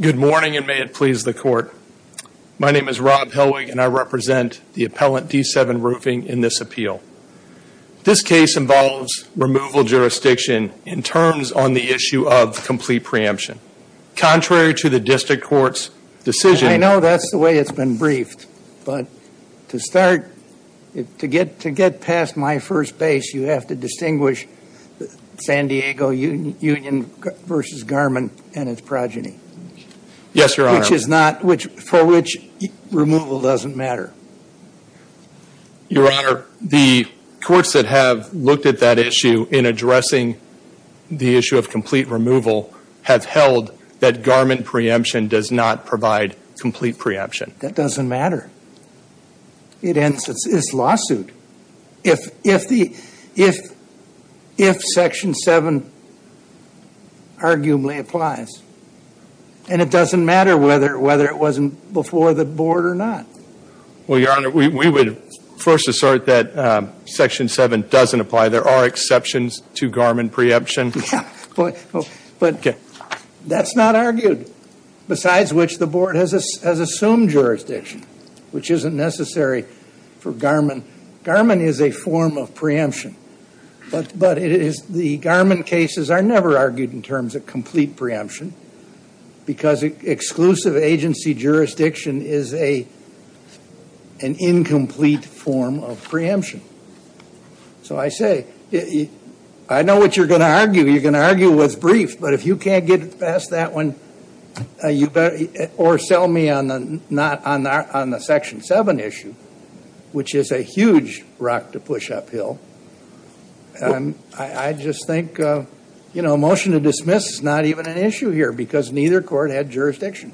Good morning, and may it please the court. My name is Rob Helwig, and I represent the appellant D7 Roofing in this appeal. This case involves removal jurisdiction in terms on the issue of complete preemption. Contrary to the district court's decision— I know that's the way it's been briefed, but to get past my first base, you have to distinguish San Diego Union v. Garmin and its progeny, for which removal doesn't matter. Your Honor, the courts that have looked at that issue in addressing the issue of complete removal have held that Garmin preemption does not provide complete preemption. That doesn't matter. It ends its lawsuit if Section 7 arguably applies. And it doesn't matter whether it wasn't before the board or not. Well, Your Honor, we would first assert that Section 7 doesn't apply. There are exceptions to Garmin preemption. But that's not argued, besides which the board has assumed jurisdiction, which isn't necessary for Garmin. Garmin is a form of preemption, but the Garmin cases are never argued in terms of complete preemption, because exclusive agency jurisdiction is an incomplete form of preemption. So I say, I know what you're going to argue. You're going to argue what's brief, but if you can't get past that one, or sell me on the Section 7 issue, which is a huge rock to push uphill, I just think a motion to dismiss is not even an issue here, because neither court had jurisdiction.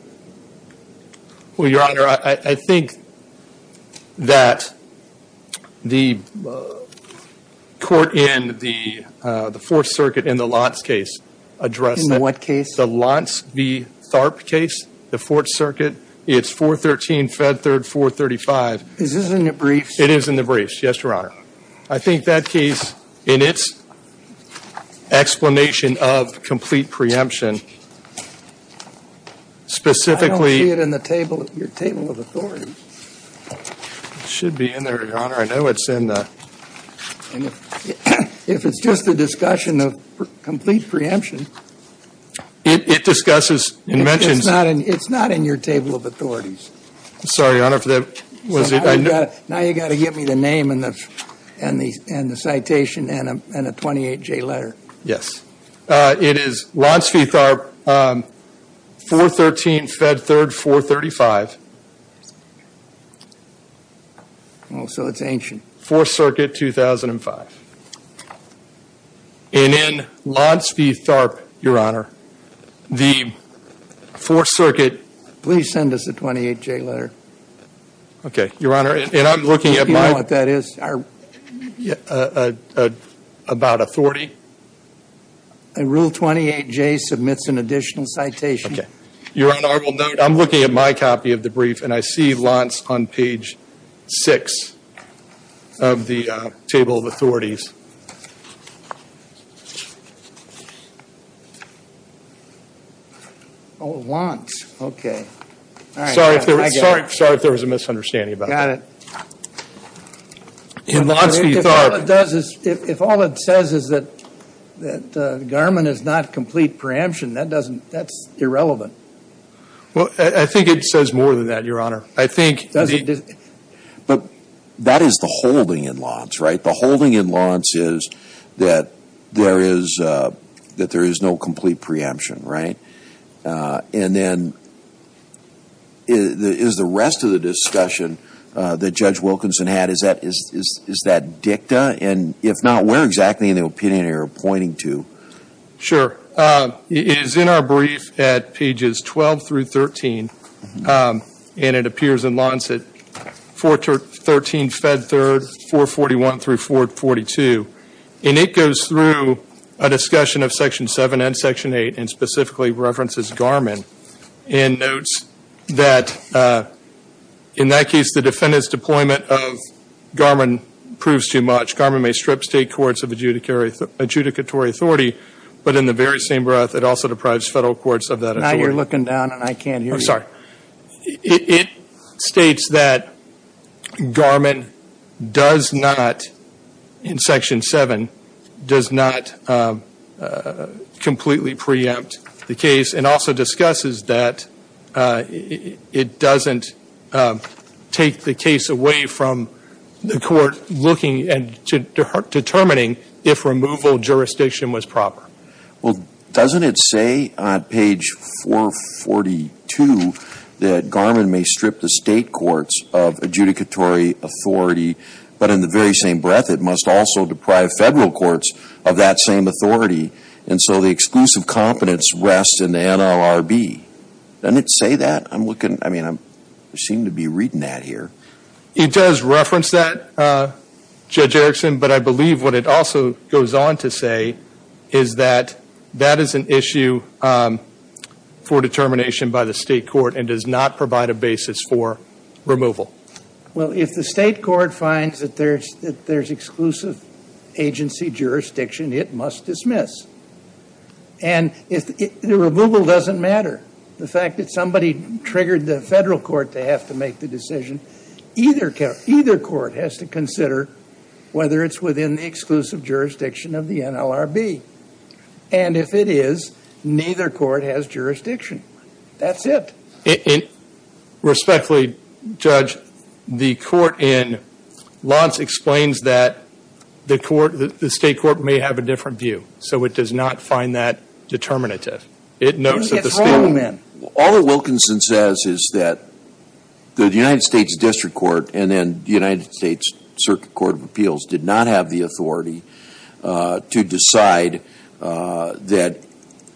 Well, Your Honor, I think that the court in the Fourth Circuit in the Lantz case addressed that. In what case? The Lantz v. Tharp case, the Fourth Circuit. It's 413 Fed Third 435. Is this in the briefs? It is in the briefs, yes, Your Honor. I think that case, in its explanation of complete preemption, specifically – I don't see it in the table, your table of authorities. It should be in there, Your Honor. I know it's in the – If it's just a discussion of complete preemption – It discusses and mentions – It's not in your table of authorities. I'm sorry, Your Honor, for the – Now you've got to give me the name and the citation and a 28-J letter. Yes. It is Lantz v. Tharp, 413 Fed Third 435. Oh, so it's ancient. Fourth Circuit, 2005. And in Lantz v. Tharp, Your Honor, the Fourth Circuit – Please send us a 28-J letter. Okay, Your Honor, and I'm looking at my – Do you know what that is? About a 40? Rule 28-J submits an additional citation. Okay. Your Honor, I will note, I'm looking at my copy of the brief, and I see Lantz on page 6 of the table of authorities. Oh, Lantz. Okay. Sorry if there was a misunderstanding about that. In Lantz v. Tharp – If all it says is that Garmin is not complete preemption, that's irrelevant. Well, I think it says more than that, Your Honor. I think – But that is the holding in Lantz, right? The holding in Lantz is that there is no complete preemption, right? And then is the rest of the discussion that Judge Wilkinson had, is that dicta? And if not, where exactly in the opinion are you pointing to? Sure. It is in our brief at pages 12 through 13, and it appears in Lantz at 413 Fed 3rd, 441 through 442. And it goes through a discussion of Section 7 and Section 8 and specifically references Garmin and notes that in that case, the defendant's deployment of Garmin proves too much. Garmin may strip state courts of adjudicatory authority, but in the very same breath, it also deprives federal courts of that authority. Now you're looking down, and I can't hear you. I'm sorry. It states that Garmin does not, in Section 7, does not completely preempt the case and also discusses that it doesn't take the case away from the court looking and determining if removal jurisdiction was proper. Well, doesn't it say on page 442 that Garmin may strip the state courts of adjudicatory authority, but in the very same breath, it must also deprive federal courts of that same authority. And so the exclusive competence rests in the NLRB. Doesn't it say that? I'm looking, I mean, I seem to be reading that here. It does reference that, Judge Erickson, but I believe what it also goes on to say is that that is an issue for determination by the state court and does not provide a basis for removal. Well, if the state court finds that there's exclusive agency jurisdiction, it must dismiss. And the removal doesn't matter. The fact that somebody triggered the federal court to have to make the decision, either court has to consider whether it's within the exclusive jurisdiction of the NLRB. And if it is, neither court has jurisdiction. That's it. Respectfully, Judge, the court in Lantz explains that the state court may have a different view, so it does not find that determinative. It notes that the state court… and then the United States Circuit Court of Appeals did not have the authority to decide that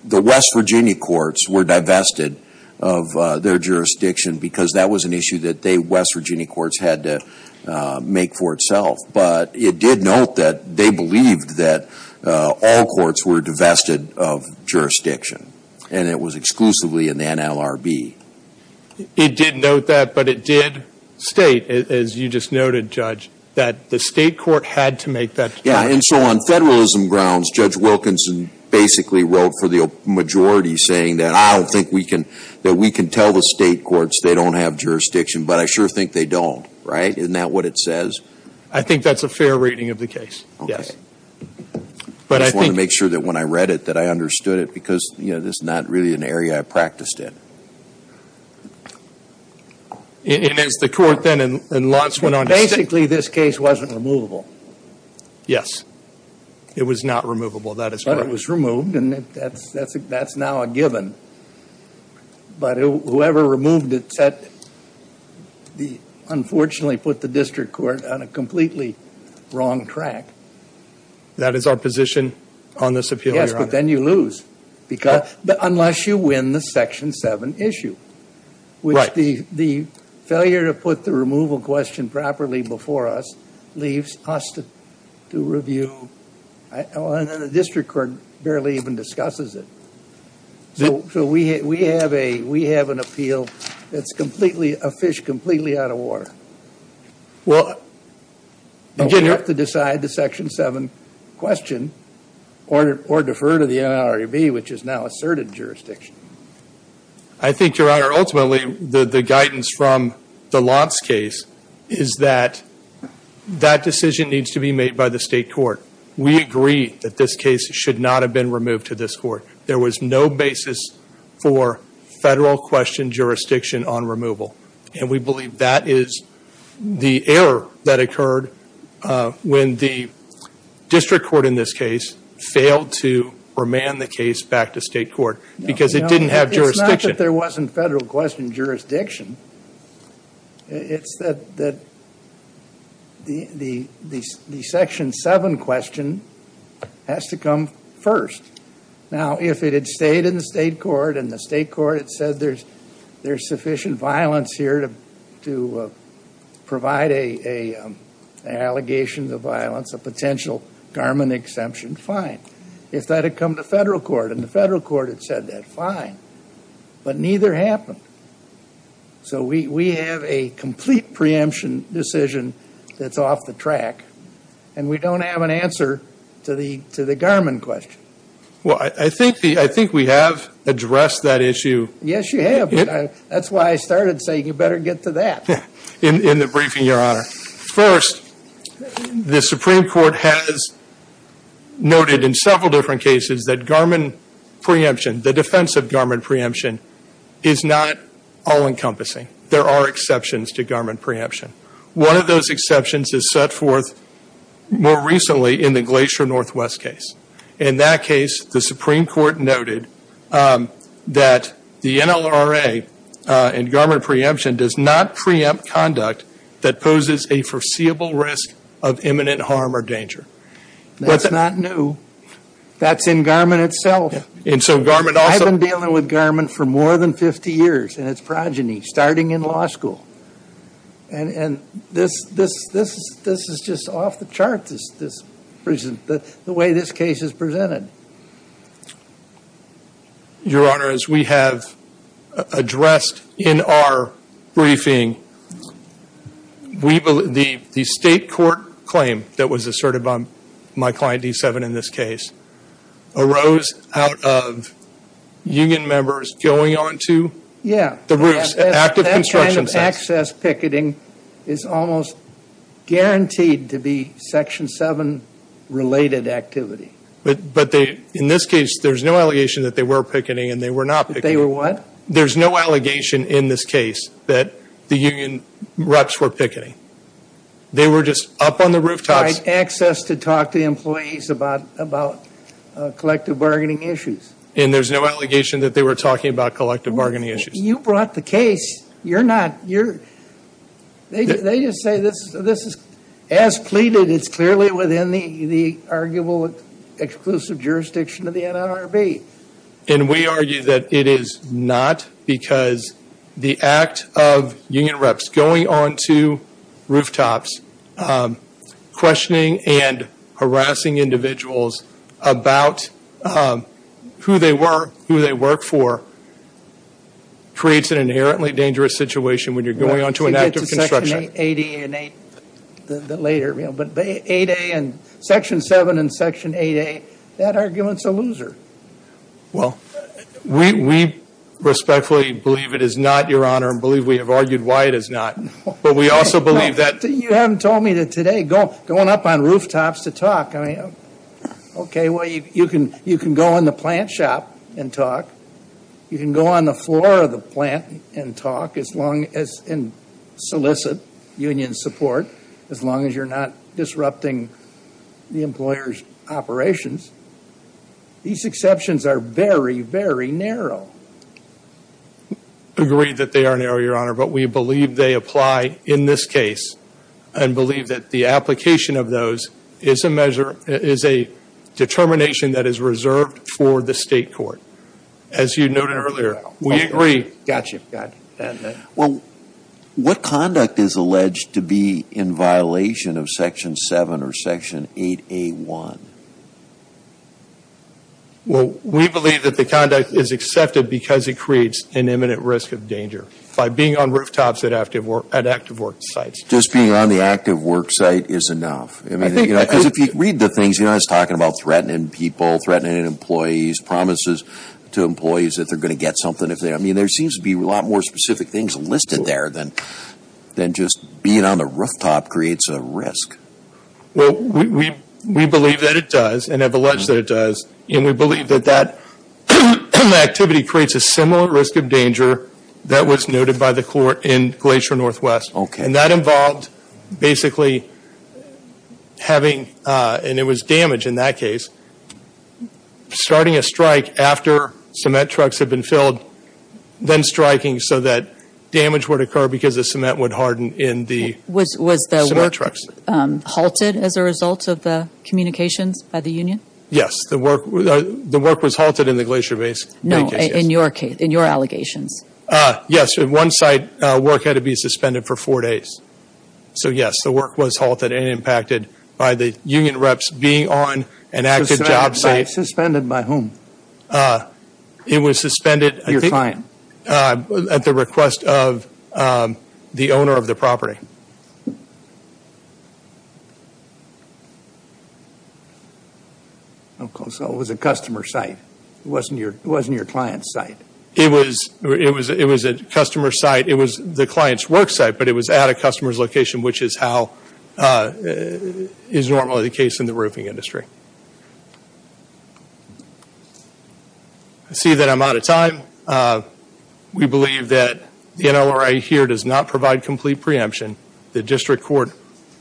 the West Virginia courts were divested of their jurisdiction because that was an issue that the West Virginia courts had to make for itself. But it did note that they believed that all courts were divested of jurisdiction, and it was exclusively in the NLRB. It did note that, but it did state, as you just noted, Judge, that the state court had to make that determination. Yeah, and so on federalism grounds, Judge Wilkinson basically wrote for the majority saying that I don't think we can tell the state courts they don't have jurisdiction, but I sure think they don't, right? Isn't that what it says? I think that's a fair reading of the case, yes. I just want to make sure that when I read it that I understood it because, you know, this is not really an area I practiced it. And as the court then and lots went on to say… Basically, this case wasn't removable. Yes. It was not removable. But it was removed, and that's now a given. But whoever removed it unfortunately put the district court on a completely wrong track. That is our position on this appeal, Your Honor. But then you lose unless you win the Section 7 issue, which the failure to put the removal question properly before us leaves us to review. And the district court barely even discusses it. So we have an appeal that's a fish completely out of water. Well, we have to decide the Section 7 question or defer to the NLRB, which has now asserted jurisdiction. I think, Your Honor, ultimately the guidance from the Lotz case is that that decision needs to be made by the state court. We agree that this case should not have been removed to this court. There was no basis for federal question jurisdiction on removal. And we believe that is the error that occurred when the district court in this case failed to remand the case back to state court because it didn't have jurisdiction. It's not that there wasn't federal question jurisdiction. It's that the Section 7 question has to come first. Now, if it had stayed in the state court, and the state court had said there's sufficient violence here to provide an allegation of violence, a potential Garmin exemption, fine. If that had come to federal court, and the federal court had said that, fine. But neither happened. So we have a complete preemption decision that's off the track, and we don't have an answer to the Garmin question. Well, I think we have addressed that issue. Yes, you have. That's why I started saying you better get to that. In the briefing, Your Honor. First, the Supreme Court has noted in several different cases that Garmin preemption, the defense of Garmin preemption, is not all-encompassing. There are exceptions to Garmin preemption. One of those exceptions is set forth more recently in the Glacier Northwest case. In that case, the Supreme Court noted that the NLRA and Garmin preemption does not preempt conduct that poses a foreseeable risk of imminent harm or danger. That's not new. That's in Garmin itself. And so Garmin also – I've been dealing with Garmin for more than 50 years in its progeny, starting in law school. And this is just off the charts, the way this case is presented. Your Honor, as we have addressed in our briefing, the state court claim that was asserted by my client, D7, in this case, arose out of union members going onto the roofs, active construction sites. So access picketing is almost guaranteed to be Section 7-related activity. But in this case, there's no allegation that they were picketing and they were not picketing. They were what? There's no allegation in this case that the union reps were picketing. They were just up on the rooftops. Access to talk to employees about collective bargaining issues. And there's no allegation that they were talking about collective bargaining issues. You brought the case. You're not. They just say this is as pleaded. It's clearly within the arguable exclusive jurisdiction of the NLRB. And we argue that it is not because the act of union reps going onto rooftops, questioning and harassing individuals about who they were, who they work for, creates an inherently dangerous situation when you're going onto an active construction. Section 8A and Section 7 and Section 8A, that argument's a loser. Well, we respectfully believe it is not, Your Honor, and believe we have argued why it is not. But we also believe that. You haven't told me that today going up on rooftops to talk. Okay, well, you can go in the plant shop and talk. You can go on the floor of the plant and talk as long as in solicit union support, as long as you're not disrupting the employer's operations. These exceptions are very, very narrow. Agreed that they are narrow, Your Honor. But we believe they apply in this case and believe that the application of those is a determination that is reserved for the state court. As you noted earlier, we agree. Gotcha. Well, what conduct is alleged to be in violation of Section 7 or Section 8A1? Well, we believe that the conduct is accepted because it creates an imminent risk of danger. By being on rooftops at active work sites. Just being on the active work site is enough. Because if you read the things, Your Honor, it's talking about threatening people, threatening employees, promises to employees that they're going to get something. I mean, there seems to be a lot more specific things listed there than just being on the rooftop creates a risk. Well, we believe that it does and have alleged that it does. And we believe that that activity creates a similar risk of danger that was noted by the court in Glacier Northwest. And that involved basically having, and it was damage in that case, starting a strike after cement trucks had been filled, then striking so that damage would occur because the cement would harden in the cement trucks. Was the work halted as a result of the communications by the union? Yes, the work was halted in the Glacier Basin. No, in your case, in your allegations. Yes, at one site work had to be suspended for four days. So, yes, the work was halted and impacted by the union reps being on an active job site. Suspended by whom? It was suspended at the request of the owner of the property. I'm sorry. It was a customer site. It wasn't your client's site. It was a customer site. It was the client's work site, but it was at a customer's location, which is how is normally the case in the roofing industry. I see that I'm out of time. We believe that the NLRA here does not provide complete preemption. The district court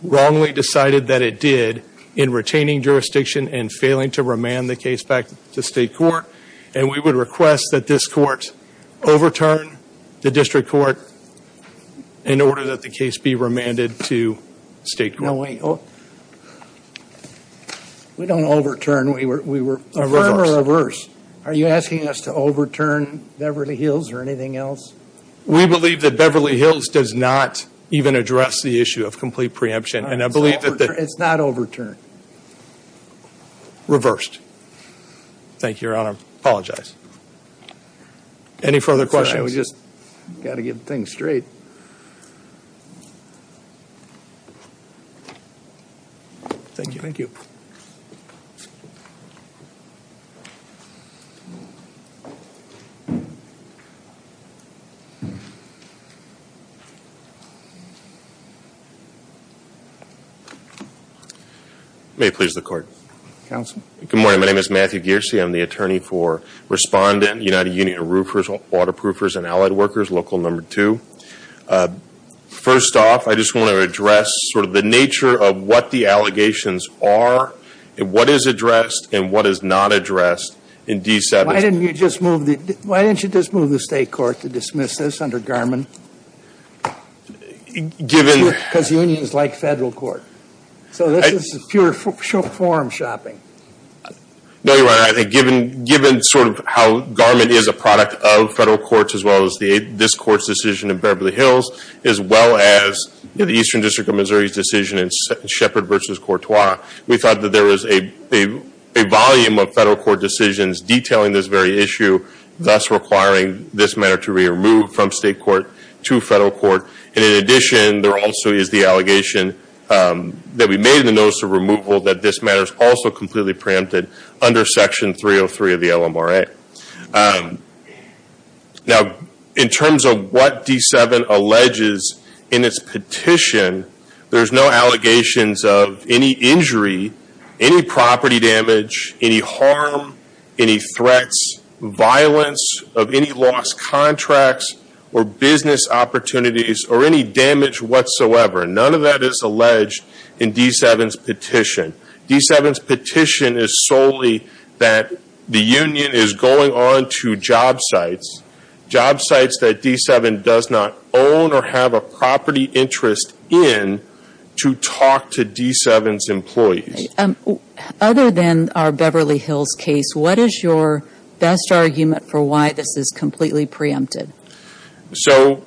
wrongly decided that it did in retaining jurisdiction and failing to remand the case back to state court, and we would request that this court overturn the district court in order that the case be remanded to state court. No, wait. We don't overturn. We were reverse. Are you asking us to overturn Beverly Hills or anything else? We believe that Beverly Hills does not even address the issue of complete preemption. It's not overturned. Reversed. Thank you, Your Honor. I apologize. Any further questions? We just got to get things straight. Thank you. May it please the Court. Counsel. Good morning. My name is Matthew Geercy. I'm the attorney for Respondent, United Union of Roofers, Waterproofers, and Allied Workers, Local No. 2. First off, I just want to address sort of the nature of what the allegations are and what is addressed and what is not addressed in D7. Why didn't you just move the state court to dismiss this under Garmin? Because unions like federal court. So this is pure forum shopping. No, Your Honor. Given sort of how Garmin is a product of federal courts as well as this court's decision in Beverly Hills as well as the Eastern District of Missouri's decision in Sheppard v. Courtois, we thought that there was a volume of federal court decisions detailing this very issue, thus requiring this matter to be removed from state court to federal court. And in addition, there also is the allegation that we made in the notice of removal that this matter is also completely preempted under Section 303 of the LMRA. Now, in terms of what D7 alleges in its petition, there's no allegations of any injury, any property damage, any harm, any threats, violence of any lost contracts or business opportunities or any damage whatsoever. None of that is alleged in D7's petition. D7's petition is solely that the union is going on to job sites, job sites that D7 does not own or have a property interest in to talk to D7's employees. Other than our Beverly Hills case, what is your best argument for why this is completely preempted? So,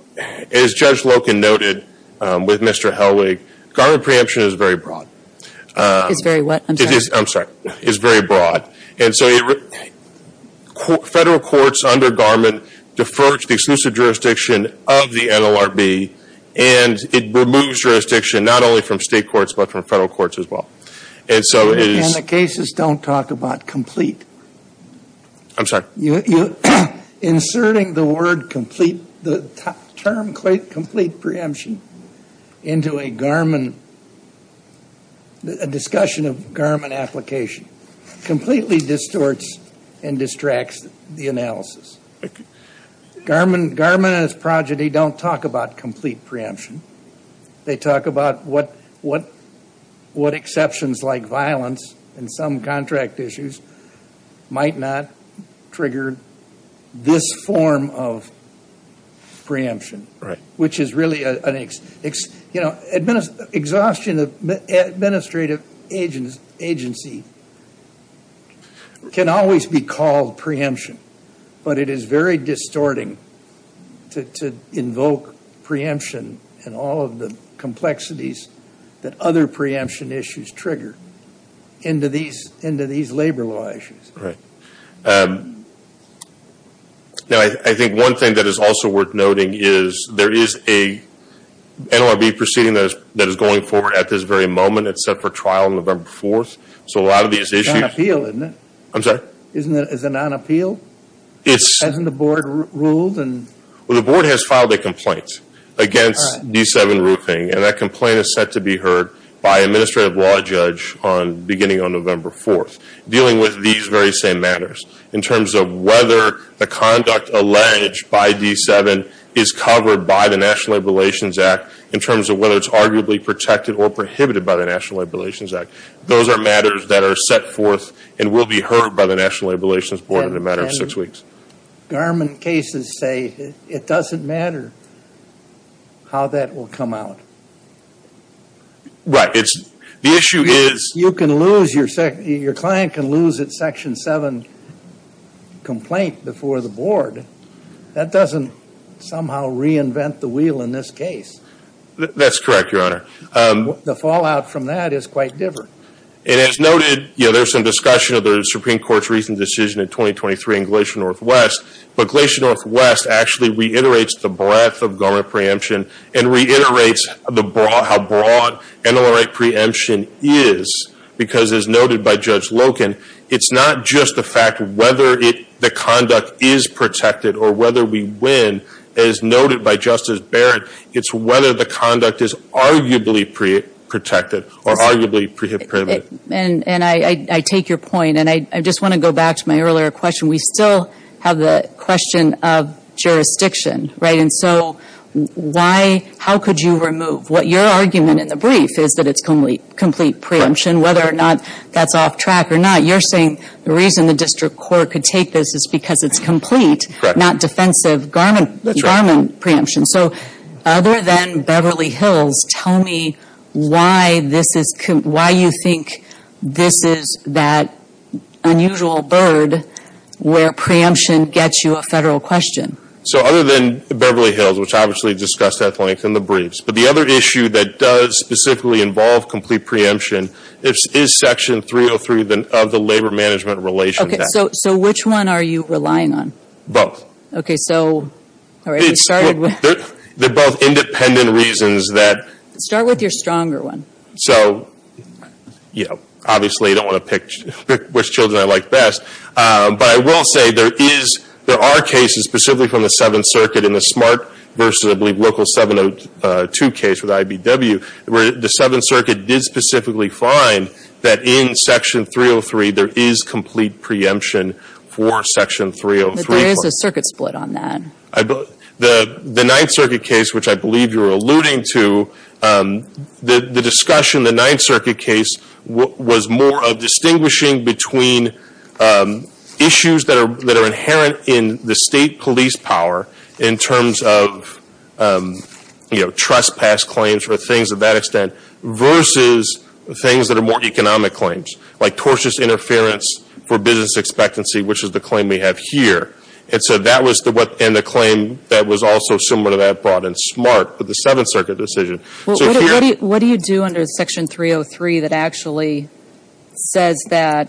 as Judge Loken noted with Mr. Helwig, garment preemption is very broad. It's very what? I'm sorry. I'm sorry. It's very broad. And so federal courts under garment defer to the exclusive jurisdiction of the NLRB and it removes jurisdiction not only from state courts but from federal courts as well. And the cases don't talk about complete. I'm sorry. Inserting the term complete preemption into a garment, a discussion of garment application, completely distorts and distracts the analysis. Garment and its progeny don't talk about complete preemption. They talk about what exceptions like violence and some contract issues might not trigger this form of preemption. Exhaustion of administrative agency can always be called preemption, but it is very distorting to invoke preemption and all of the complexities that other preemption issues trigger into these labor law issues. Now, I think one thing that is also worth noting is there is a NLRB proceeding that is going forward at this very moment. It's set for trial on November 4th. So, a lot of these issues. It's a non-appeal, isn't it? I'm sorry. Isn't it a non-appeal? Hasn't the board ruled? Well, the board has filed a complaint against D7 Roofing and that complaint is set to be heard by an administrative law judge beginning on November 4th, dealing with these very same matters. In terms of whether the conduct alleged by D7 is covered by the National Labor Relations Act, in terms of whether it's arguably protected or prohibited by the National Labor Relations Act. Those are matters that are set forth and will be heard by the National Labor Relations Board in a matter of six weeks. Garment cases say it doesn't matter how that will come out. Right. The issue is. You can lose. Your client can lose its Section 7 complaint before the board. That doesn't somehow reinvent the wheel in this case. That's correct, Your Honor. The fallout from that is quite different. And as noted, there's some discussion of the Supreme Court's recent decision in 2023 in Glacier Northwest, but Glacier Northwest actually reiterates the breadth of garment preemption and reiterates how broad NLRA preemption is. Because as noted by Judge Loken, it's not just the fact whether the conduct is protected or whether we win, as noted by Justice Barrett, it's whether the conduct is arguably protected or arguably prohibited. And I take your point. And I just want to go back to my earlier question. We still have the question of jurisdiction, right? So how could you remove? Your argument in the brief is that it's complete preemption, whether or not that's off track or not. You're saying the reason the district court could take this is because it's complete, not defensive garment preemption. So other than Beverly Hills, tell me why you think this is that unusual bird where preemption gets you a federal question. So other than Beverly Hills, which obviously discussed at length in the briefs, but the other issue that does specifically involve complete preemption is Section 303 of the Labor Management Relation Act. Okay, so which one are you relying on? Okay, so all right, we started with. They're both independent reasons that. Start with your stronger one. So, you know, obviously I don't want to pick which children I like best, but I will say there are cases specifically from the Seventh Circuit in the SMART versus, I believe, local 702 case with IBW, where the Seventh Circuit did specifically find that in Section 303 there is complete preemption for Section 303. But there is a circuit split on that. The Ninth Circuit case, which I believe you're alluding to, the discussion in the Ninth Circuit case was more of distinguishing between issues that are inherent in the state police power in terms of, you know, trespass claims for things of that extent versus things that are more economic claims, like tortious interference for business expectancy, which is the claim we have here. And so that was the claim that was also somewhat of that brought in SMART with the Seventh Circuit decision. What do you do under Section 303 that actually says that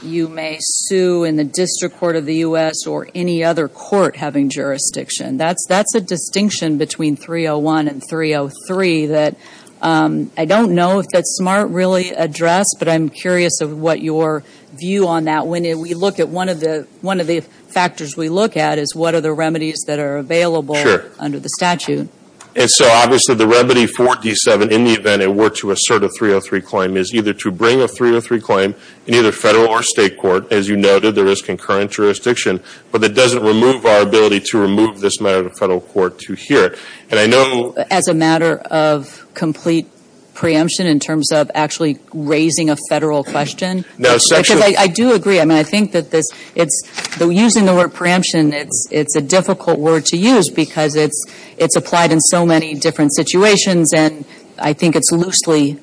you may sue in the District Court of the U.S. or any other court having jurisdiction? That's a distinction between 301 and 303 that I don't know if that SMART really addressed, but I'm curious of what your view on that. Well, when we look at one of the factors we look at is what are the remedies that are available under the statute. And so obviously the remedy for D7 in the event it were to assert a 303 claim is either to bring a 303 claim in either federal or state court. As you noted, there is concurrent jurisdiction, but that doesn't remove our ability to remove this matter to the federal court to hear it. And I know as a matter of complete preemption in terms of actually raising a federal question. Because I do agree. I mean, I think that using the word preemption, it's a difficult word to use because it's applied in so many different situations, and I think it's loosely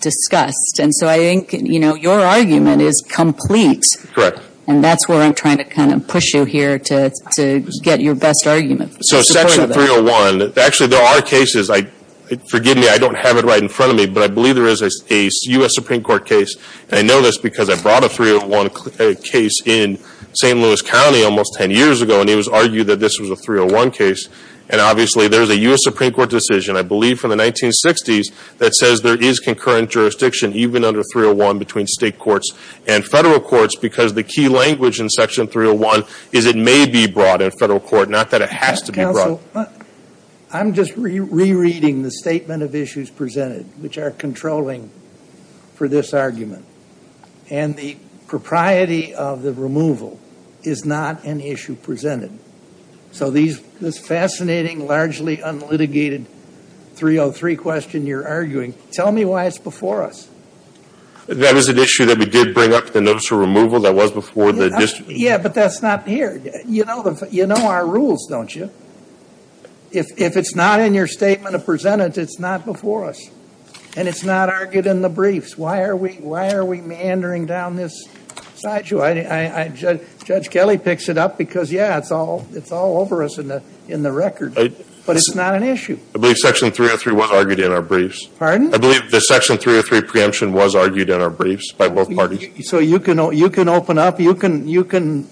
discussed. And so I think, you know, your argument is complete. Correct. And that's where I'm trying to kind of push you here to get your best argument. So Section 301, actually there are cases, forgive me, I don't have it right in front of me, but I believe there is a U.S. Supreme Court case. And I know this because I brought a 301 case in St. Louis County almost ten years ago, and it was argued that this was a 301 case. And obviously there's a U.S. Supreme Court decision, I believe from the 1960s, that says there is concurrent jurisdiction even under 301 between state courts and federal courts because the key language in Section 301 is it may be brought in federal court, not that it has to be brought. I'm just rereading the statement of issues presented, which are controlling for this argument. And the propriety of the removal is not an issue presented. So this fascinating, largely unlitigated 303 question you're arguing, tell me why it's before us. That is an issue that we did bring up, the notice of removal, that was before the district. Yeah, but that's not here. You know our rules, don't you? If it's not in your statement of presented, it's not before us. And it's not argued in the briefs. Why are we meandering down this side? Judge Kelly picks it up because, yeah, it's all over us in the record. But it's not an issue. I believe Section 303 was argued in our briefs. Pardon? I believe the Section 303 preemption was argued in our briefs by both parties. So you can open up, you can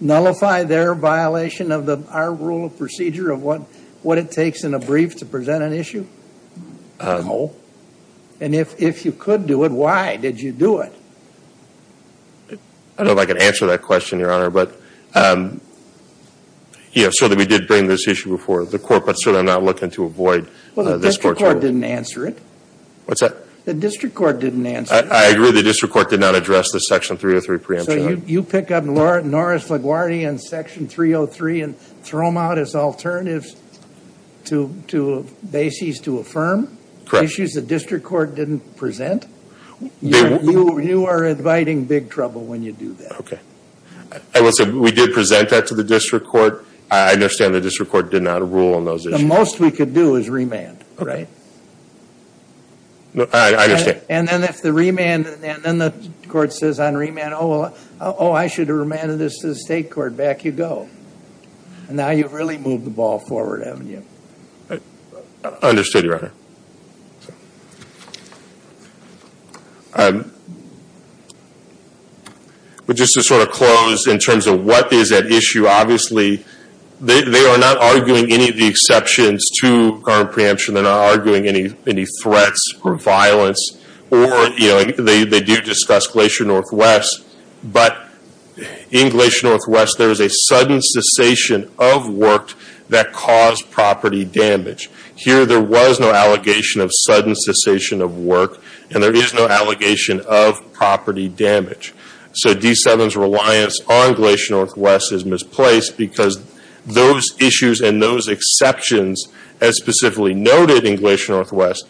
nullify their violation of our rule of procedure of what it takes in a brief to present an issue? No. And if you could do it, why did you do it? I don't know if I can answer that question, Your Honor. But, yeah, certainly we did bring this issue before the court, but certainly I'm not looking to avoid this court's ruling. Well, the district court didn't answer it. What's that? The district court didn't answer it. I agree the district court did not address the Section 303 preemption. So you pick up Norris LaGuardia and Section 303 and throw them out as alternatives to bases to affirm? Correct. Issues the district court didn't present? You are inviting big trouble when you do that. I will say we did present that to the district court. I understand the district court did not rule on those issues. The most we could do is remand, right? I understand. And then the court says on remand, oh, I should have remanded this to the state court. Back you go. Now you've really moved the ball forward, haven't you? I understand, Your Honor. But just to sort of close in terms of what is at issue, obviously, they are not arguing any of the exceptions to current preemption. They're not arguing any threats or violence. Or they do discuss Glacier Northwest. But in Glacier Northwest, there is a sudden cessation of work that caused property damage. Here there was no allegation of sudden cessation of work. And there is no allegation of property damage. So D7's reliance on Glacier Northwest is misplaced because those issues and those exceptions, as specifically noted in Glacier Northwest,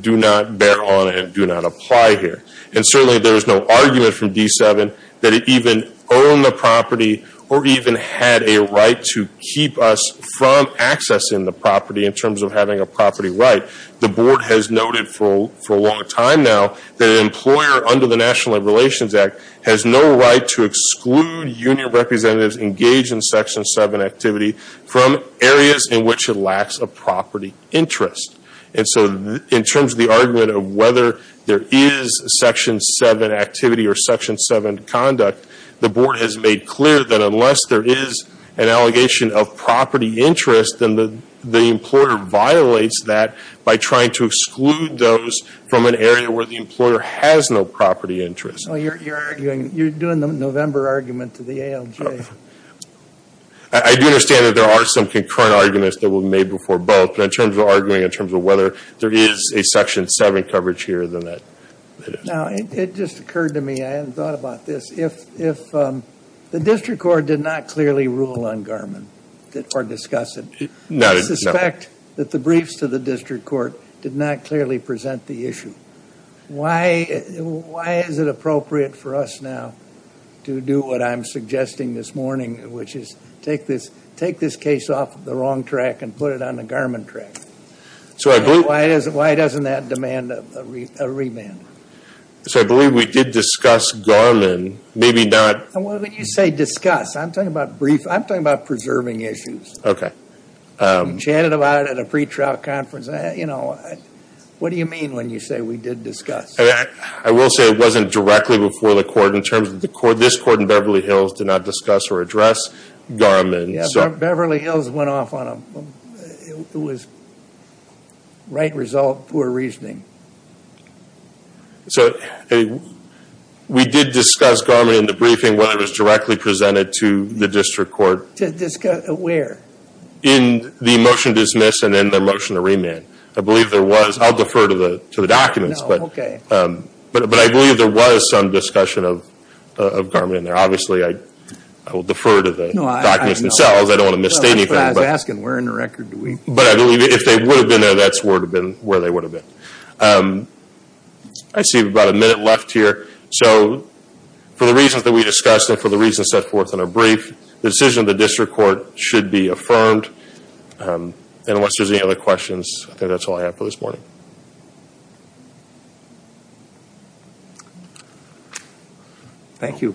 do not bear on and do not apply here. And certainly there is no argument from D7 that it even owned the property or even had a right to keep us from accessing the property in terms of having a property right. The board has noted for a long time now that an employer under the National Labor Relations Act has no right to exclude union representatives engaged in Section 7 activity from areas in which it lacks a property interest. And so in terms of the argument of whether there is Section 7 activity or Section 7 conduct, the board has made clear that unless there is an allegation of property interest, then the employer violates that by trying to exclude those from an area where the employer has no property interest. Well, you're arguing, you're doing the November argument to the ALJ. I do understand that there are some concurrent arguments that were made before both. But in terms of arguing in terms of whether there is a Section 7 coverage here, then that is. Now, it just occurred to me, I hadn't thought about this, if the district court did not clearly rule on Garmin or discuss it, I suspect that the briefs to the district court did not clearly present the issue. Why is it appropriate for us now to do what I'm suggesting this morning, which is take this case off the wrong track and put it on the Garmin track? Why doesn't that demand a remand? So I believe we did discuss Garmin, maybe not. When you say discuss, I'm talking about preserving issues. We chatted about it at a pretrial conference. What do you mean when you say we did discuss? I will say it wasn't directly before the court in terms of the court. This court in Beverly Hills did not discuss or address Garmin. Yeah, Beverly Hills went off on it. It was right result, poor reasoning. We did discuss Garmin in the briefing when it was directly presented to the district court. Where? In the motion to dismiss and in the motion to remand. I believe there was, I'll defer to the documents, but I believe there was some discussion of Garmin there. Obviously, I will defer to the documents themselves. I don't want to misstate anything. I was asking where in the record do we... But I believe if they would have been there, that's where they would have been. I see about a minute left here. So for the reasons that we discussed and for the reasons set forth in our brief, the decision of the district court should be affirmed. Unless there's any other questions, I think that's all I have for this morning. Thank you.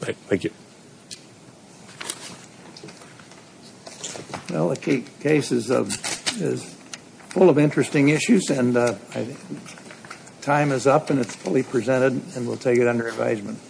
Thank you. Well, the case is full of interesting issues and time is up and it's fully presented and we'll take it under advisement.